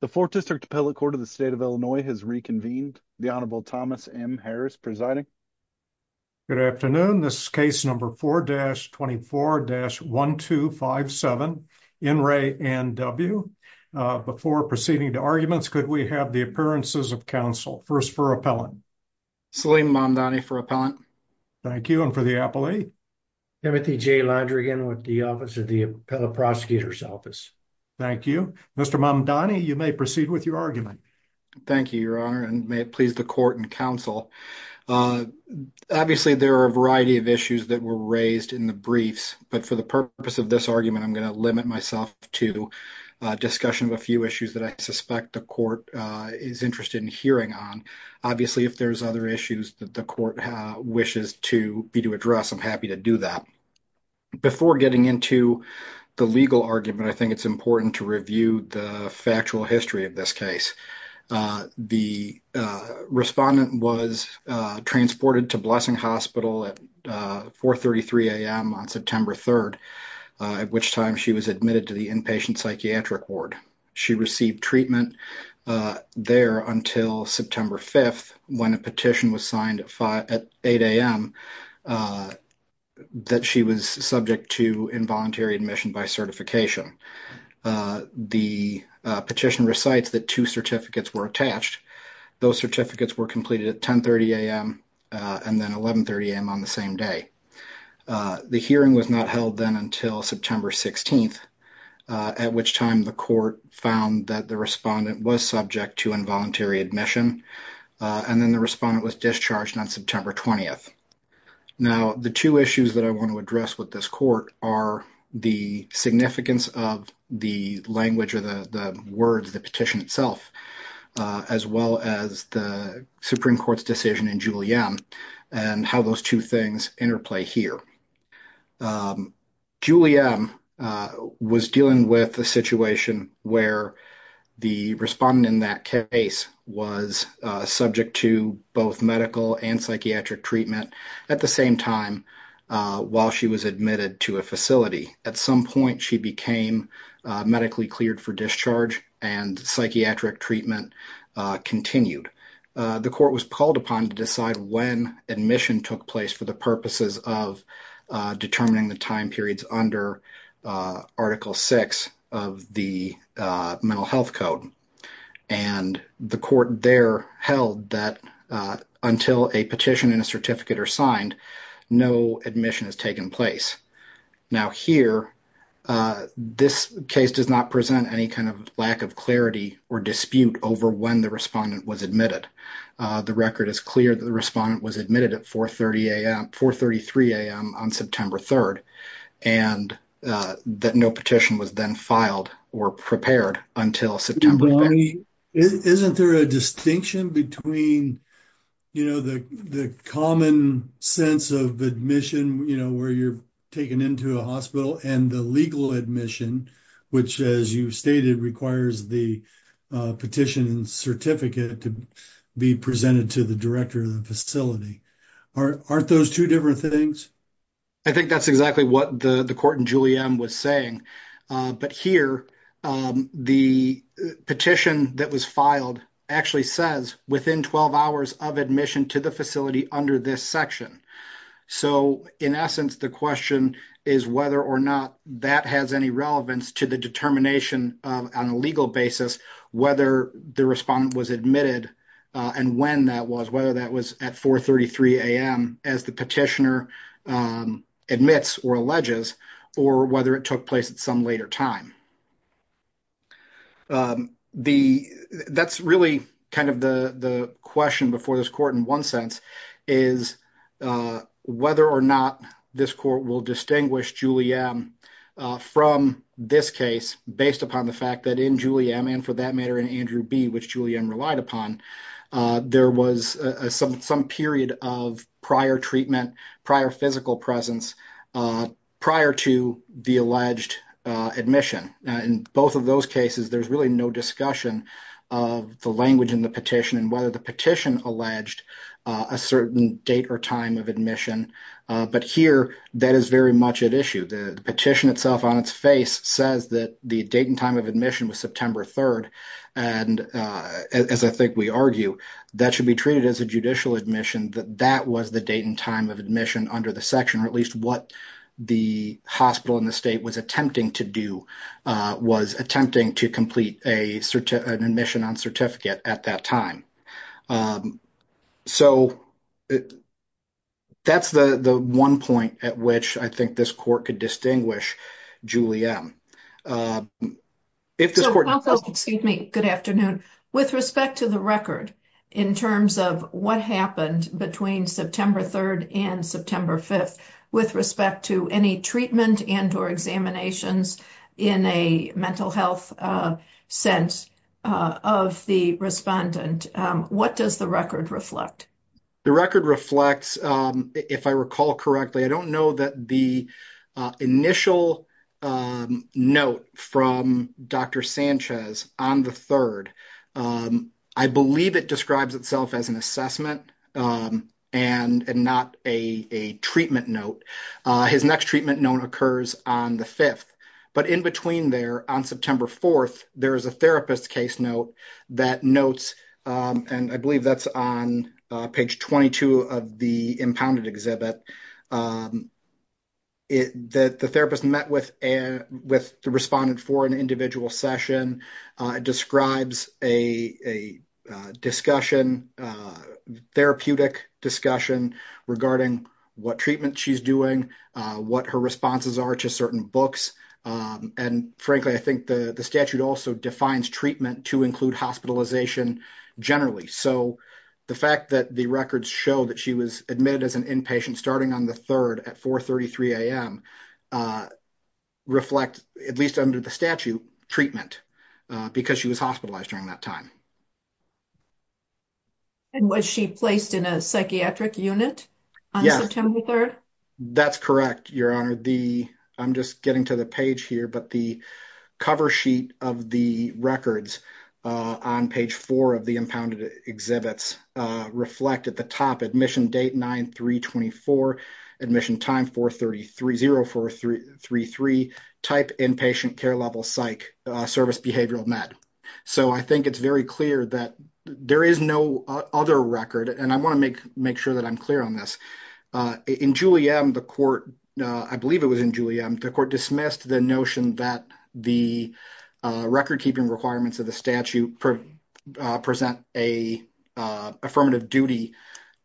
The 4th District Appellate Court of the State of Illinois has reconvened. The Honorable Thomas M. Harris presiding. Good afternoon, this case number 4-24-1257, N, Ray, N, W. Before proceeding to arguments, could we have the appearances of counsel? First for appellant. Salim Mamdani for appellant. Thank you. And for the appellee. Timothy J. Londrigan with the Office of the Appellate Prosecutor's Office. Thank you. Mr. Mamdani, you may proceed with your argument. Thank you, Your Honor, and may it please the court and counsel. Obviously, there are a variety of issues that were raised in the briefs, but for the purpose of this argument, I'm going to limit myself to a discussion of a few issues that I suspect the court is interested in hearing on. Obviously, if there's other issues that the court wishes to be to important to review the factual history of this case. The respondent was transported to Blessing Hospital at 4.33 a.m. on September 3rd, at which time she was admitted to the inpatient psychiatric ward. She received treatment there until September 5th, when a petition was signed at 8 a.m. that she was subject to involuntary admission by certification. The petition recites that two certificates were attached. Those certificates were completed at 10.30 a.m. and then 11.30 a.m. on the same day. The hearing was not held then until September 16th, at which time the court found that the respondent was subject to involuntary admission, and then the respondent was discharged on September 20th. Now, the two issues that I want to address with this court are the significance of the language or the words, the petition itself, as well as the Supreme Court's decision in Juliem and how those two things interplay here. Juliem was dealing with a situation where the respondent in that case was subject to both medical and psychiatric treatment at the same time while she was admitted to a facility. At some point, she became medically cleared for discharge and psychiatric treatment continued. The court was called upon to decide when admission took place for the purposes of determining the time periods under Article 6 of the Mental Health Code, and the court there held that until a petition and a certificate are signed, no admission has taken place. Now here, this case does not present any kind of lack of clarity or dispute over when the respondent was admitted. The record is clear that the respondent was admitted at 4.33 a.m. on September 3rd, and that no petition was then filed or prepared until September 6th. Isn't there a distinction between the common sense of admission where you're taken into a hospital and the legal admission, which, as you stated, requires the petition and certificate to be presented to the director of the facility? Aren't those two different things? I think that's exactly what the court in Juliem was saying, but here the petition that was filed actually says within 12 hours of admission to the facility under this section. So, in essence, the question is whether or not that has any relevance to the determination on a legal basis whether the respondent was admitted and when that was, whether that was at 4.33 a.m. as the petitioner admits or alleges, or whether it took place at some later time. That's really kind of the question before this court in one sense, is whether or not this court will distinguish Juliem from this case based upon the fact that in Juliem and for that matter in Andrew B., which Juliem relied upon, there was some period of prior treatment, prior physical presence, prior to the alleged admission. In both of those cases, there's really no discussion of the language in the petition and whether the petition alleged a certain date or time of admission, but here that is very much at issue. The petition itself on its face says that the date and time of admission was September 3rd and, as I think we argue, that should be treated as a judicial admission, that that was the date and time of admission under the section, or at least what the hospital in the state was attempting to do, was attempting to complete an admission on certificate at that time. So, that's the one point at which I think this court could distinguish Juliem. Good afternoon. With respect to the record in terms of what happened between September 3rd and September 5th, with respect to any treatment and or examinations in a mental health sense of the respondent, what does the record reflect? The record reflects, if I recall correctly, I don't know. The initial note from Dr. Sanchez on the 3rd, I believe it describes itself as an assessment and not a treatment note. His next treatment note occurs on the 5th, but in between there, on September 4th, there is a therapist case note that notes, and I believe that's on page 22 of the impounded exhibit, that the therapist met with the respondent for an individual session. It describes a therapeutic discussion regarding what treatment she's doing, what her responses are to certain books, and frankly, I think the statute also defines treatment to include hospitalization generally. So, the fact that the records show that she was admitted as an inpatient starting on the 3rd at 4 33 a.m. reflect, at least under the statute, treatment because she was hospitalized during that time. And was she placed in a psychiatric unit on September 3rd? That's correct, Your Honor. I'm just getting to the page here, but the cover sheet of the records on page 4 of the impounded exhibits reflect, at the top, admission date 9 3 24, admission time 4 33, 0 4 3 3, type inpatient, care level psych, service behavioral med. So, I think it's very clear that there is no other record, and I want to make sure that I'm clear on this. In Julie M, the court, I believe it was in Julie M, the court dismissed the notion that the record keeping requirements of the statute present an affirmative duty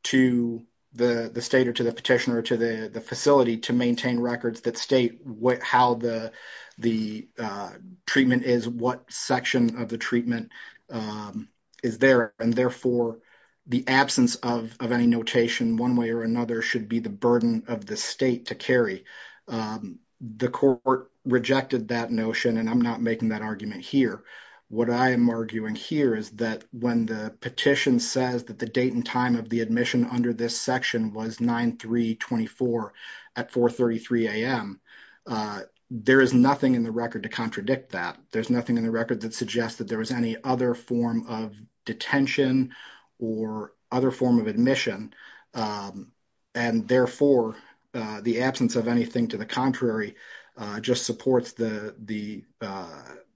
to the state or to the petitioner or to the facility to maintain records that state how the treatment is, what section of the treatment is there, and therefore, the absence of any notation one way or another should be the burden of the state to carry. The court rejected that notion, and I'm not making that argument here, what I am arguing here is that when the petition says that the date and time of the admission under this section was 9 3 24 at 4 33 a.m., there is nothing in the record to contradict that. There's nothing in the record that suggests that there was any other form of detention or other form of admission, and therefore, the absence of anything to the contrary just supports the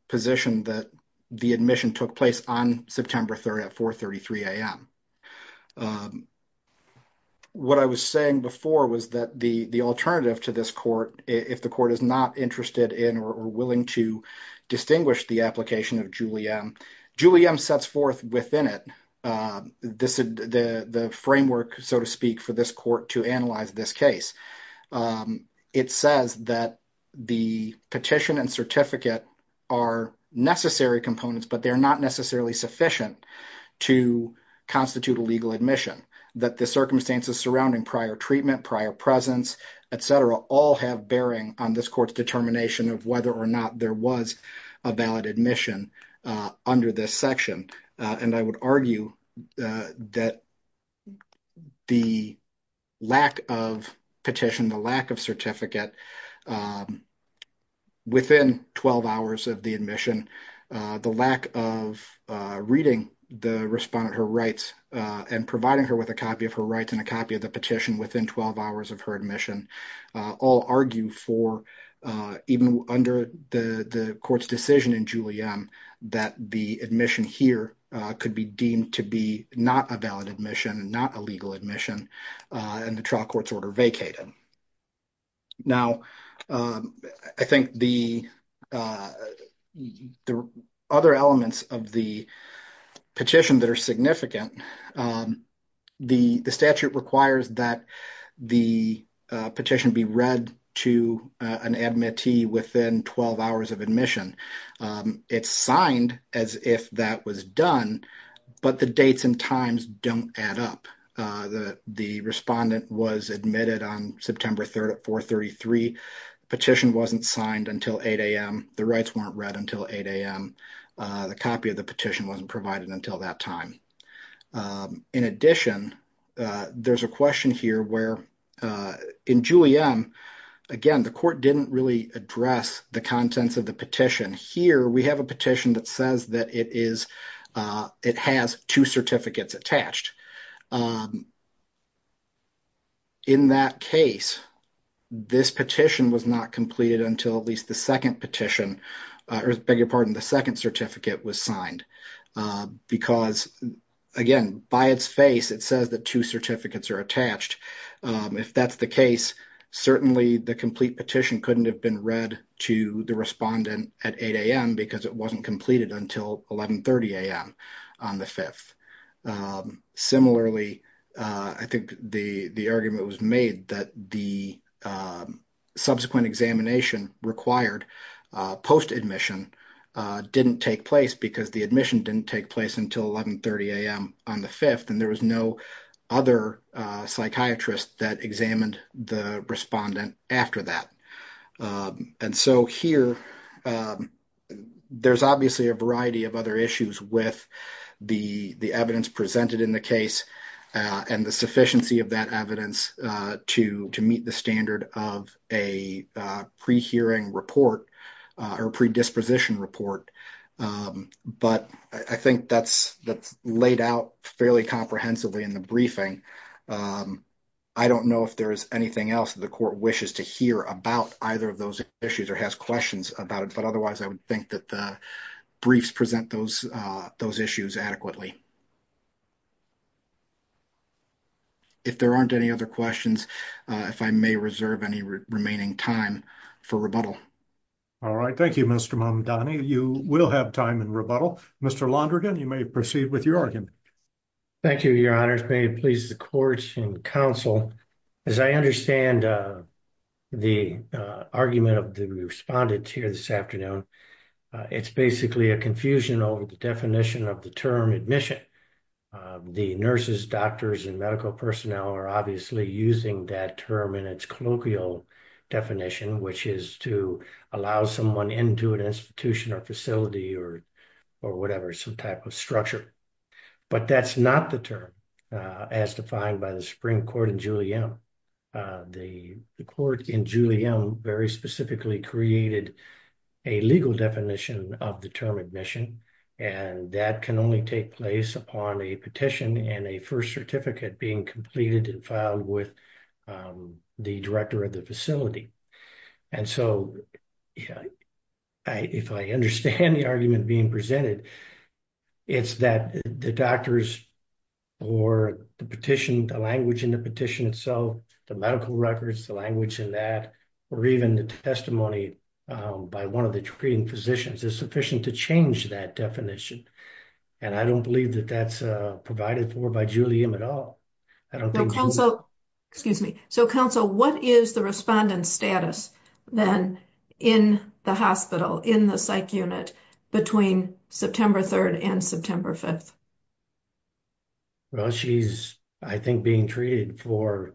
position that the admission took place on September 3rd at 4 33 a.m. What I was saying before was that the alternative to this court, if the court is not interested in or willing to distinguish the application of Julie M, Julie M sets forth within it this the framework, so to speak, for this court to analyze this case. It says that the petition and certificate are necessary components, but they're not necessarily sufficient to constitute a legal admission that the circumstances surrounding prior treatment, prior presence, et cetera, all have bearing on this court's determination of whether or not there was a valid admission under this section, and I would argue that the lack of petition, the lack of certificate within 12 hours of the admission, the lack of reading the respondent her rights and providing her with a copy of her rights and a copy of the petition within 12 hours of her all argue for, even under the court's decision in Julie M, that the admission here could be deemed to be not a valid admission, not a legal admission, and the trial court's order vacated. Now, I think the other elements of the petition that are significant, the statute requires that the petition be read to an admittee within 12 hours of admission. It's signed as if that was done, but the dates and times don't add up. The respondent was admitted on September 3rd at 4.33. Petition wasn't signed until 8 a.m. The rights weren't read until 8 a.m. The copy of the petition wasn't provided until that time. In addition, there's a question here where in Julie M, again, the court didn't really address the contents of the petition. Here we have a petition that says that it has two certificates attached. In that case, this petition was not signed because, again, by its face, it says that two certificates are attached. If that's the case, certainly the complete petition couldn't have been read to the respondent at 8 a.m. because it wasn't completed until 11.30 a.m. on the 5th. Similarly, I think the argument was made that the subsequent examination required post-admission didn't take place because the admission didn't take place until 11.30 a.m. on the 5th, and there was no other psychiatrist that examined the respondent after that. Here, there's obviously a variety of other issues with the evidence presented in the case and the sufficiency of evidence to meet the standard of a pre-hearing report or predisposition report, but I think that's laid out fairly comprehensively in the briefing. I don't know if there's anything else the court wishes to hear about either of those issues or has questions about it, but otherwise, I would think that the if there aren't any other questions, if I may reserve any remaining time for rebuttal. All right. Thank you, Mr. Mamadani. You will have time in rebuttal. Mr. Londrigan, you may proceed with your argument. Thank you, Your Honors. May it please the court and counsel, as I understand the argument of the respondent here this afternoon, it's basically a confusion over the definition of the term admission. The nurses, doctors, and medical personnel are obviously using that term in its colloquial definition, which is to allow someone into an institution or facility or whatever, some type of structure, but that's not the term as defined by the Supreme Court in Julie M. The court in Julie M. very specifically created a legal definition of the term admission, and that can only take place upon a petition and a first certificate being completed and filed with the director of the facility. And so, if I understand the argument being presented, it's that the doctors or the petition, the language in the petition itself, the medical records, the language in that, or even the testimony by one of the treating is sufficient to change that definition. And I don't believe that that's provided for by Julie M. at all. I don't think so. Excuse me. So, counsel, what is the respondent's status then in the hospital, in the psych unit between September 3rd and September 5th? Well, she's, I think, being treated for,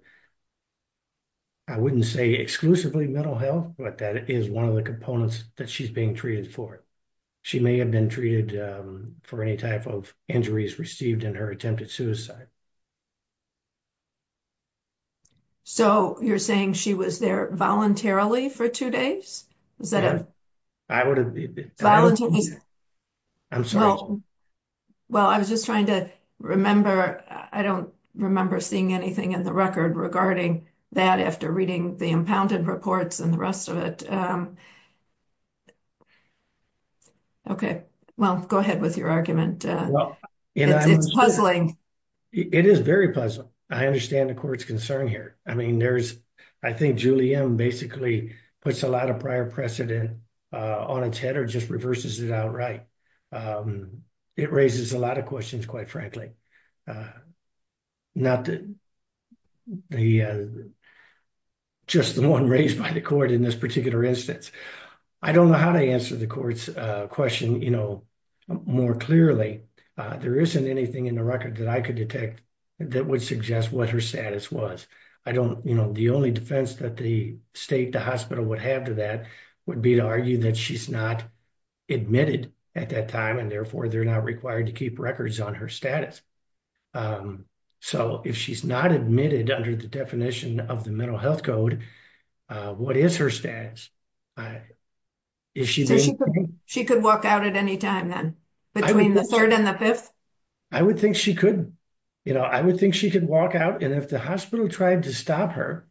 I wouldn't say exclusively mental health, but that is one of the components that she's being treated for. She may have been treated for any type of injuries received in her attempted suicide. So, you're saying she was there voluntarily for two days? I would have been. I'm sorry. Well, I was just trying to remember. I don't remember seeing anything in the record regarding that after reading the impounded reports and the rest of it. Okay. Well, go ahead with your argument. It's puzzling. It is very puzzling. I understand the court's concern here. I mean, there's, I think Julie M. basically puts a lot of prior precedent on its head or just reverses it outright. It raises a lot of questions, quite frankly, not just the one raised by the court in this particular instance. I don't know how to answer the court's question more clearly. There isn't anything in the record that I could detect that would suggest what her status was. I don't, you know, the only defense that the state, the hospital would have to that would be to argue that she's not admitted at that time and therefore they're not required to keep records on her status. So, if she's not admitted under the definition of the mental health code, what is her status? She could walk out at any time then? Between the 3rd and the 5th? I would think she could. You know, I would think she could walk out and if the hospital tried to her,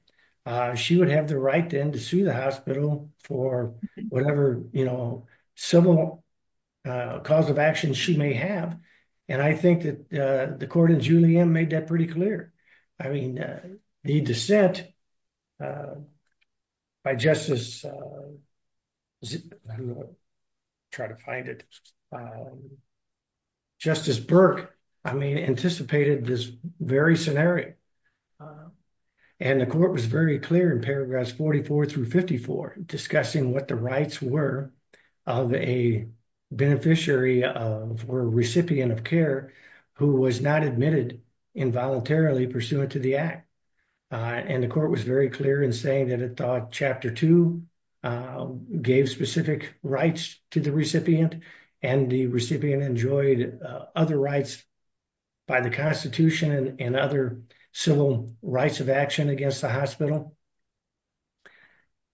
she would have the right then to sue the hospital for whatever, you know, civil cause of action she may have. And I think that the court in Julie M made that pretty clear. I mean, the dissent by Justice, I don't know, try to find it, but Justice Burke, I mean, anticipated this very scenario. And the court was very clear in paragraphs 44 through 54 discussing what the rights were of a beneficiary of or recipient of care who was not admitted involuntarily pursuant to the act. And the court was very clear in saying that it thought Chapter 2 gave specific rights to the recipient and the recipient enjoyed other rights by the Constitution and other civil rights of action against the hospital.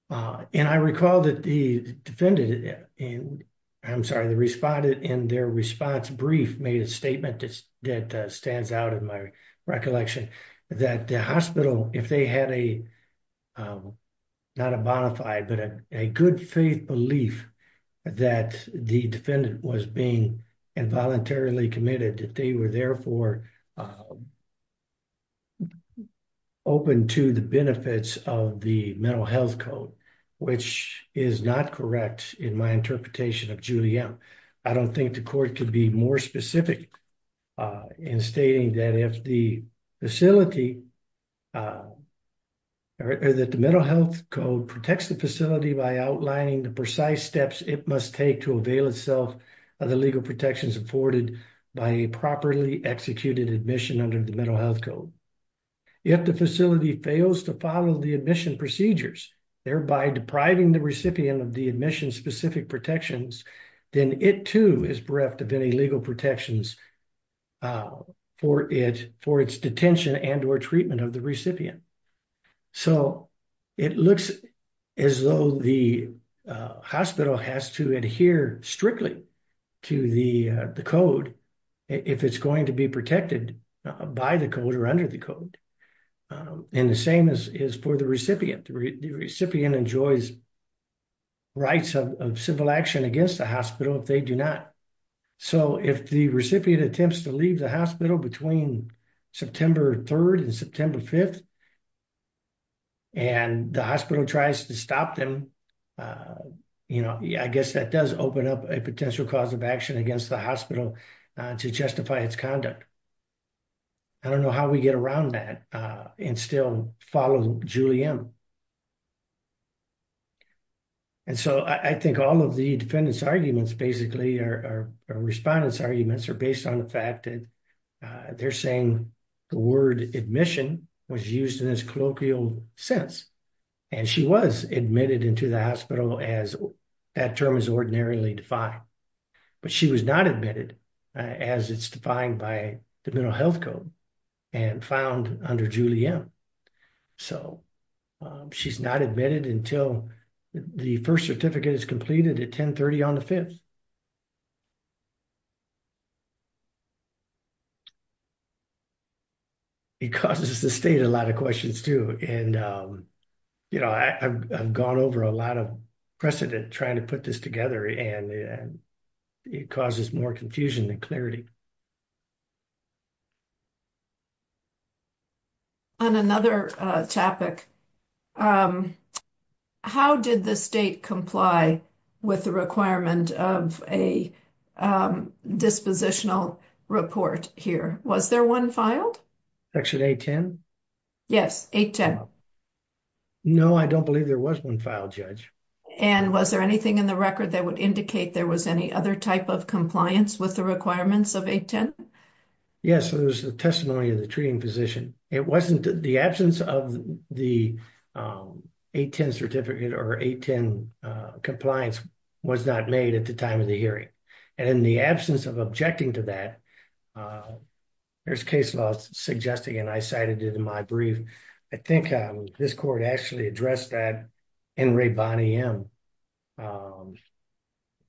And I recall that the defendant, I'm sorry, the respondent in their response brief made a that stands out in my recollection that the hospital, if they had a, not a bonafide, but a good faith belief that the defendant was being involuntarily committed that they were therefore open to the benefits of the mental health code, which is not correct in my interpretation of Julie M. I don't think the court could be more specific in stating that if the facility or that the mental health code protects the facility by outlining the precise steps it must take to avail itself of the legal protections afforded by a properly executed admission under the mental health code. If the facility fails to follow the admission procedures, thereby depriving the recipient of the admission specific protections, then it too is bereft of any legal protections for its detention and or treatment of the recipient. So it looks as though the hospital has to adhere strictly to the code if it's going to be protected by the code or under the code. And the same is for the recipient. The recipient enjoys rights of civil action against the hospital if they do not. So if the recipient attempts to leave the hospital between September 3rd and September 5th and the hospital tries to stop them, you know, I guess that does open up a potential cause of action against the hospital to justify its conduct. I don't know how we get around that and still follow Julianne. And so I think all of the defendants' arguments basically or respondents' arguments are based on the fact that they're saying the word admission was used in this colloquial sense. And she was admitted into the hospital as that term is ordinarily defined. But she was not admitted as it's defined by the mental health code and found under Julianne. So she's not admitted until the first certificate is completed at 10 30 on the 5th. It causes the state a lot of questions too. And, you know, I've gone over a lot of precedent trying to put this together and it causes more confusion than clarity. On another topic, how did the state comply with the requirement of a dispositional report here? Was there one filed? Section 810? Yes, 810. No, I don't believe there was one and was there anything in the record that would indicate there was any other type of compliance with the requirements of 810? Yes, there was the testimony of the treating physician. It wasn't the absence of the 810 certificate or 810 compliance was not made at the time of the hearing. And in the absence of objecting to that, there's case law suggesting and I cited it in my brief. I think this court actually addressed that in Ray Bonney M.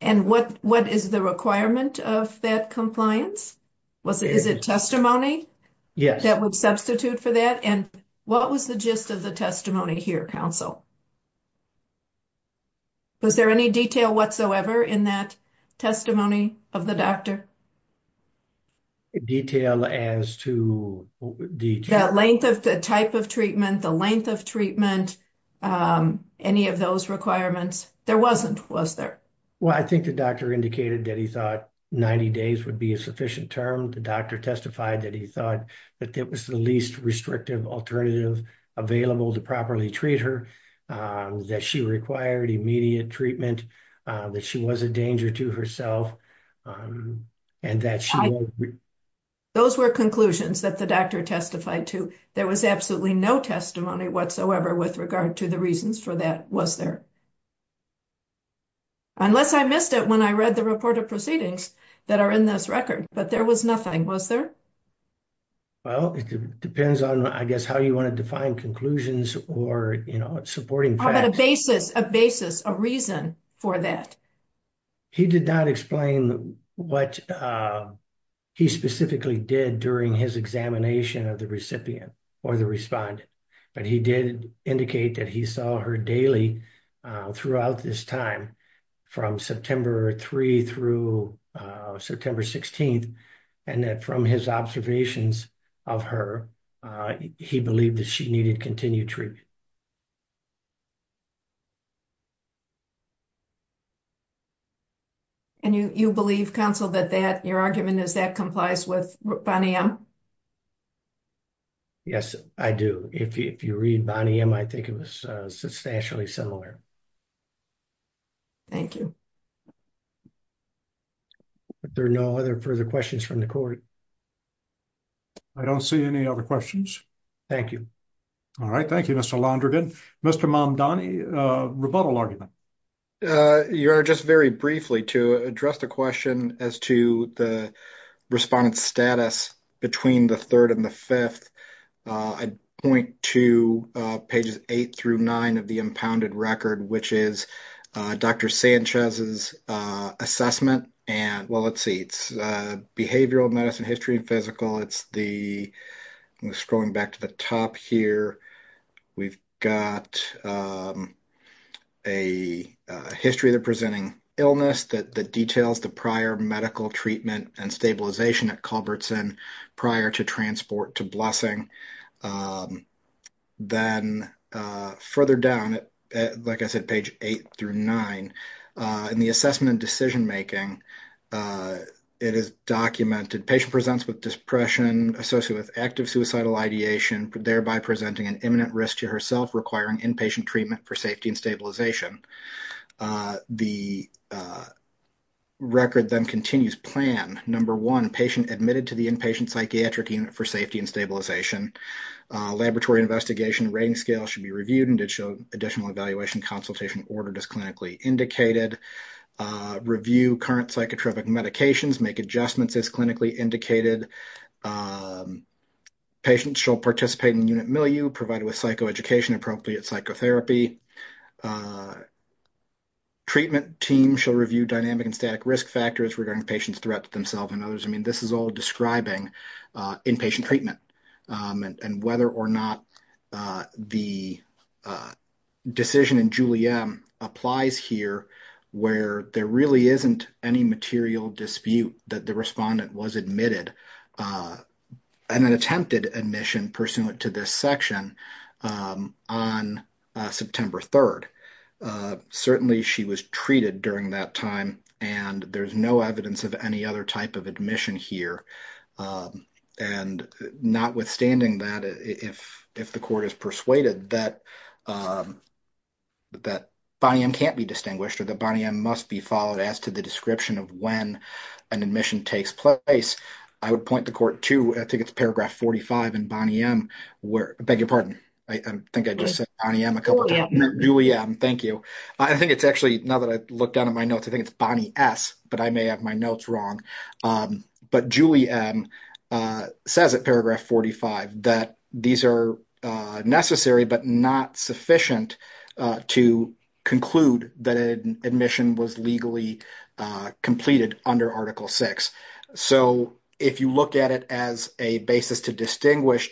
And what is the requirement of that compliance? Is it testimony that would substitute for that? And what was the gist of the testimony here, counsel? Was there any detail whatsoever in that testimony of the doctor? Detail as to the length of the type of treatment, the length of treatment, any of those requirements? There wasn't, was there? Well, I think the doctor indicated that he thought 90 days would be a sufficient term. The doctor testified that he thought that it was the least restrictive alternative available to properly treat her, that she required immediate treatment, that she was a danger to herself. Those were conclusions that the doctor testified to. There was absolutely no testimony whatsoever with regard to the reasons for that, was there? Unless I missed it when I read the report of proceedings that are in this record, but there was nothing, was there? Well, it depends on, I guess, how you want to define conclusions or supporting facts. How about a basis, a basis, a reason for that? He did not explain what he specifically did during his examination of the recipient or the respondent, but he did indicate that he saw her daily throughout this time, from September 3 through September 16th, and that from his observations of her, he believed that she needed continued treatment. And you believe, counsel, that that, your argument is that complies with Bonnie M? Yes, I do. If you read Bonnie M, I think it was substantially similar. Thank you. There are no other further questions from the court. I don't see any other questions. Thank you. All right. Thank you, Mr. Londrigan. Mr. Mamdani, a rebuttal argument. Your Honor, just very briefly to address the question as to the respondent's status between the 3rd and the 5th, I'd point to pages 8 through 9 of the impounded record, which is Dr. Sanchez's assessment and, well, let's see, it's behavioral medicine history and physical. It's the, I'm scrolling back to the top here. We've got a history of the presenting illness that details the prior medical treatment and stabilization at Culbertson prior to transport to Blessing. Then further down, like I said, page 8 through 9, in the assessment and decision making, it is documented, patient presents with depression associated with active suicidal ideation, thereby presenting an imminent risk to herself requiring inpatient treatment for safety and stabilization. Record then continues. Plan. Number one, patient admitted to the inpatient psychiatric unit for safety and stabilization. Laboratory investigation rating scale should be reviewed and additional evaluation consultation ordered as clinically indicated. Review current psychotropic medications. Make adjustments as clinically indicated. Patients shall participate in unit milieu provided with psychoeducation appropriate psychotherapy. Treatment team shall review dynamic and static risk factors regarding patient's threat to themselves and others. I mean, this is all describing inpatient treatment and whether or not the decision in Julie M applies here where there really isn't any material dispute that the respondent was admitted and then attempted admission pursuant to this section on September 3rd. Certainly, she was treated during that time and there's no evidence of any other type of admission here. And notwithstanding that, if the court is persuaded that Bonnie M can't be distinguished or that Bonnie M must be followed as to the description of when an admission takes place, I would point the court to, I think it's paragraph 45 in Bonnie M, I beg your pardon. I think I just said Bonnie M a couple of times. Julie M, thank you. I think it's actually, now that I look down at my notes, I think it's Bonnie S, but I may have my notes wrong. But Julie M says at paragraph 45 that these are necessary but not sufficient to conclude that an admission was legally completed under Article VI. So, if you look at it as a basis to distinguish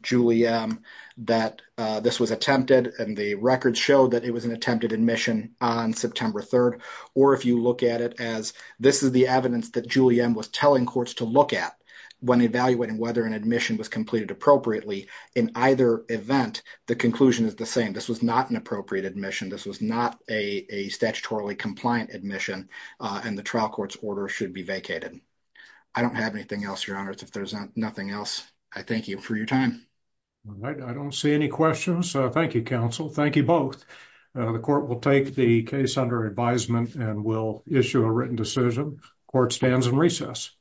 Julie M that this was attempted and the record showed that it was an attempted admission on September 3rd, or if you look at it as this is the evidence that Julie M was telling courts to look at when evaluating whether an admission was completed appropriately, in either event, the conclusion is the same. This was not an appropriate admission. This was not a statutorily compliant admission and the trial court's order should be vacated. I don't have anything else, if there's nothing else, I thank you for your time. All right. I don't see any questions. Thank you, counsel. Thank you both. The court will take the case under advisement and will issue a written decision. Court stands in recess.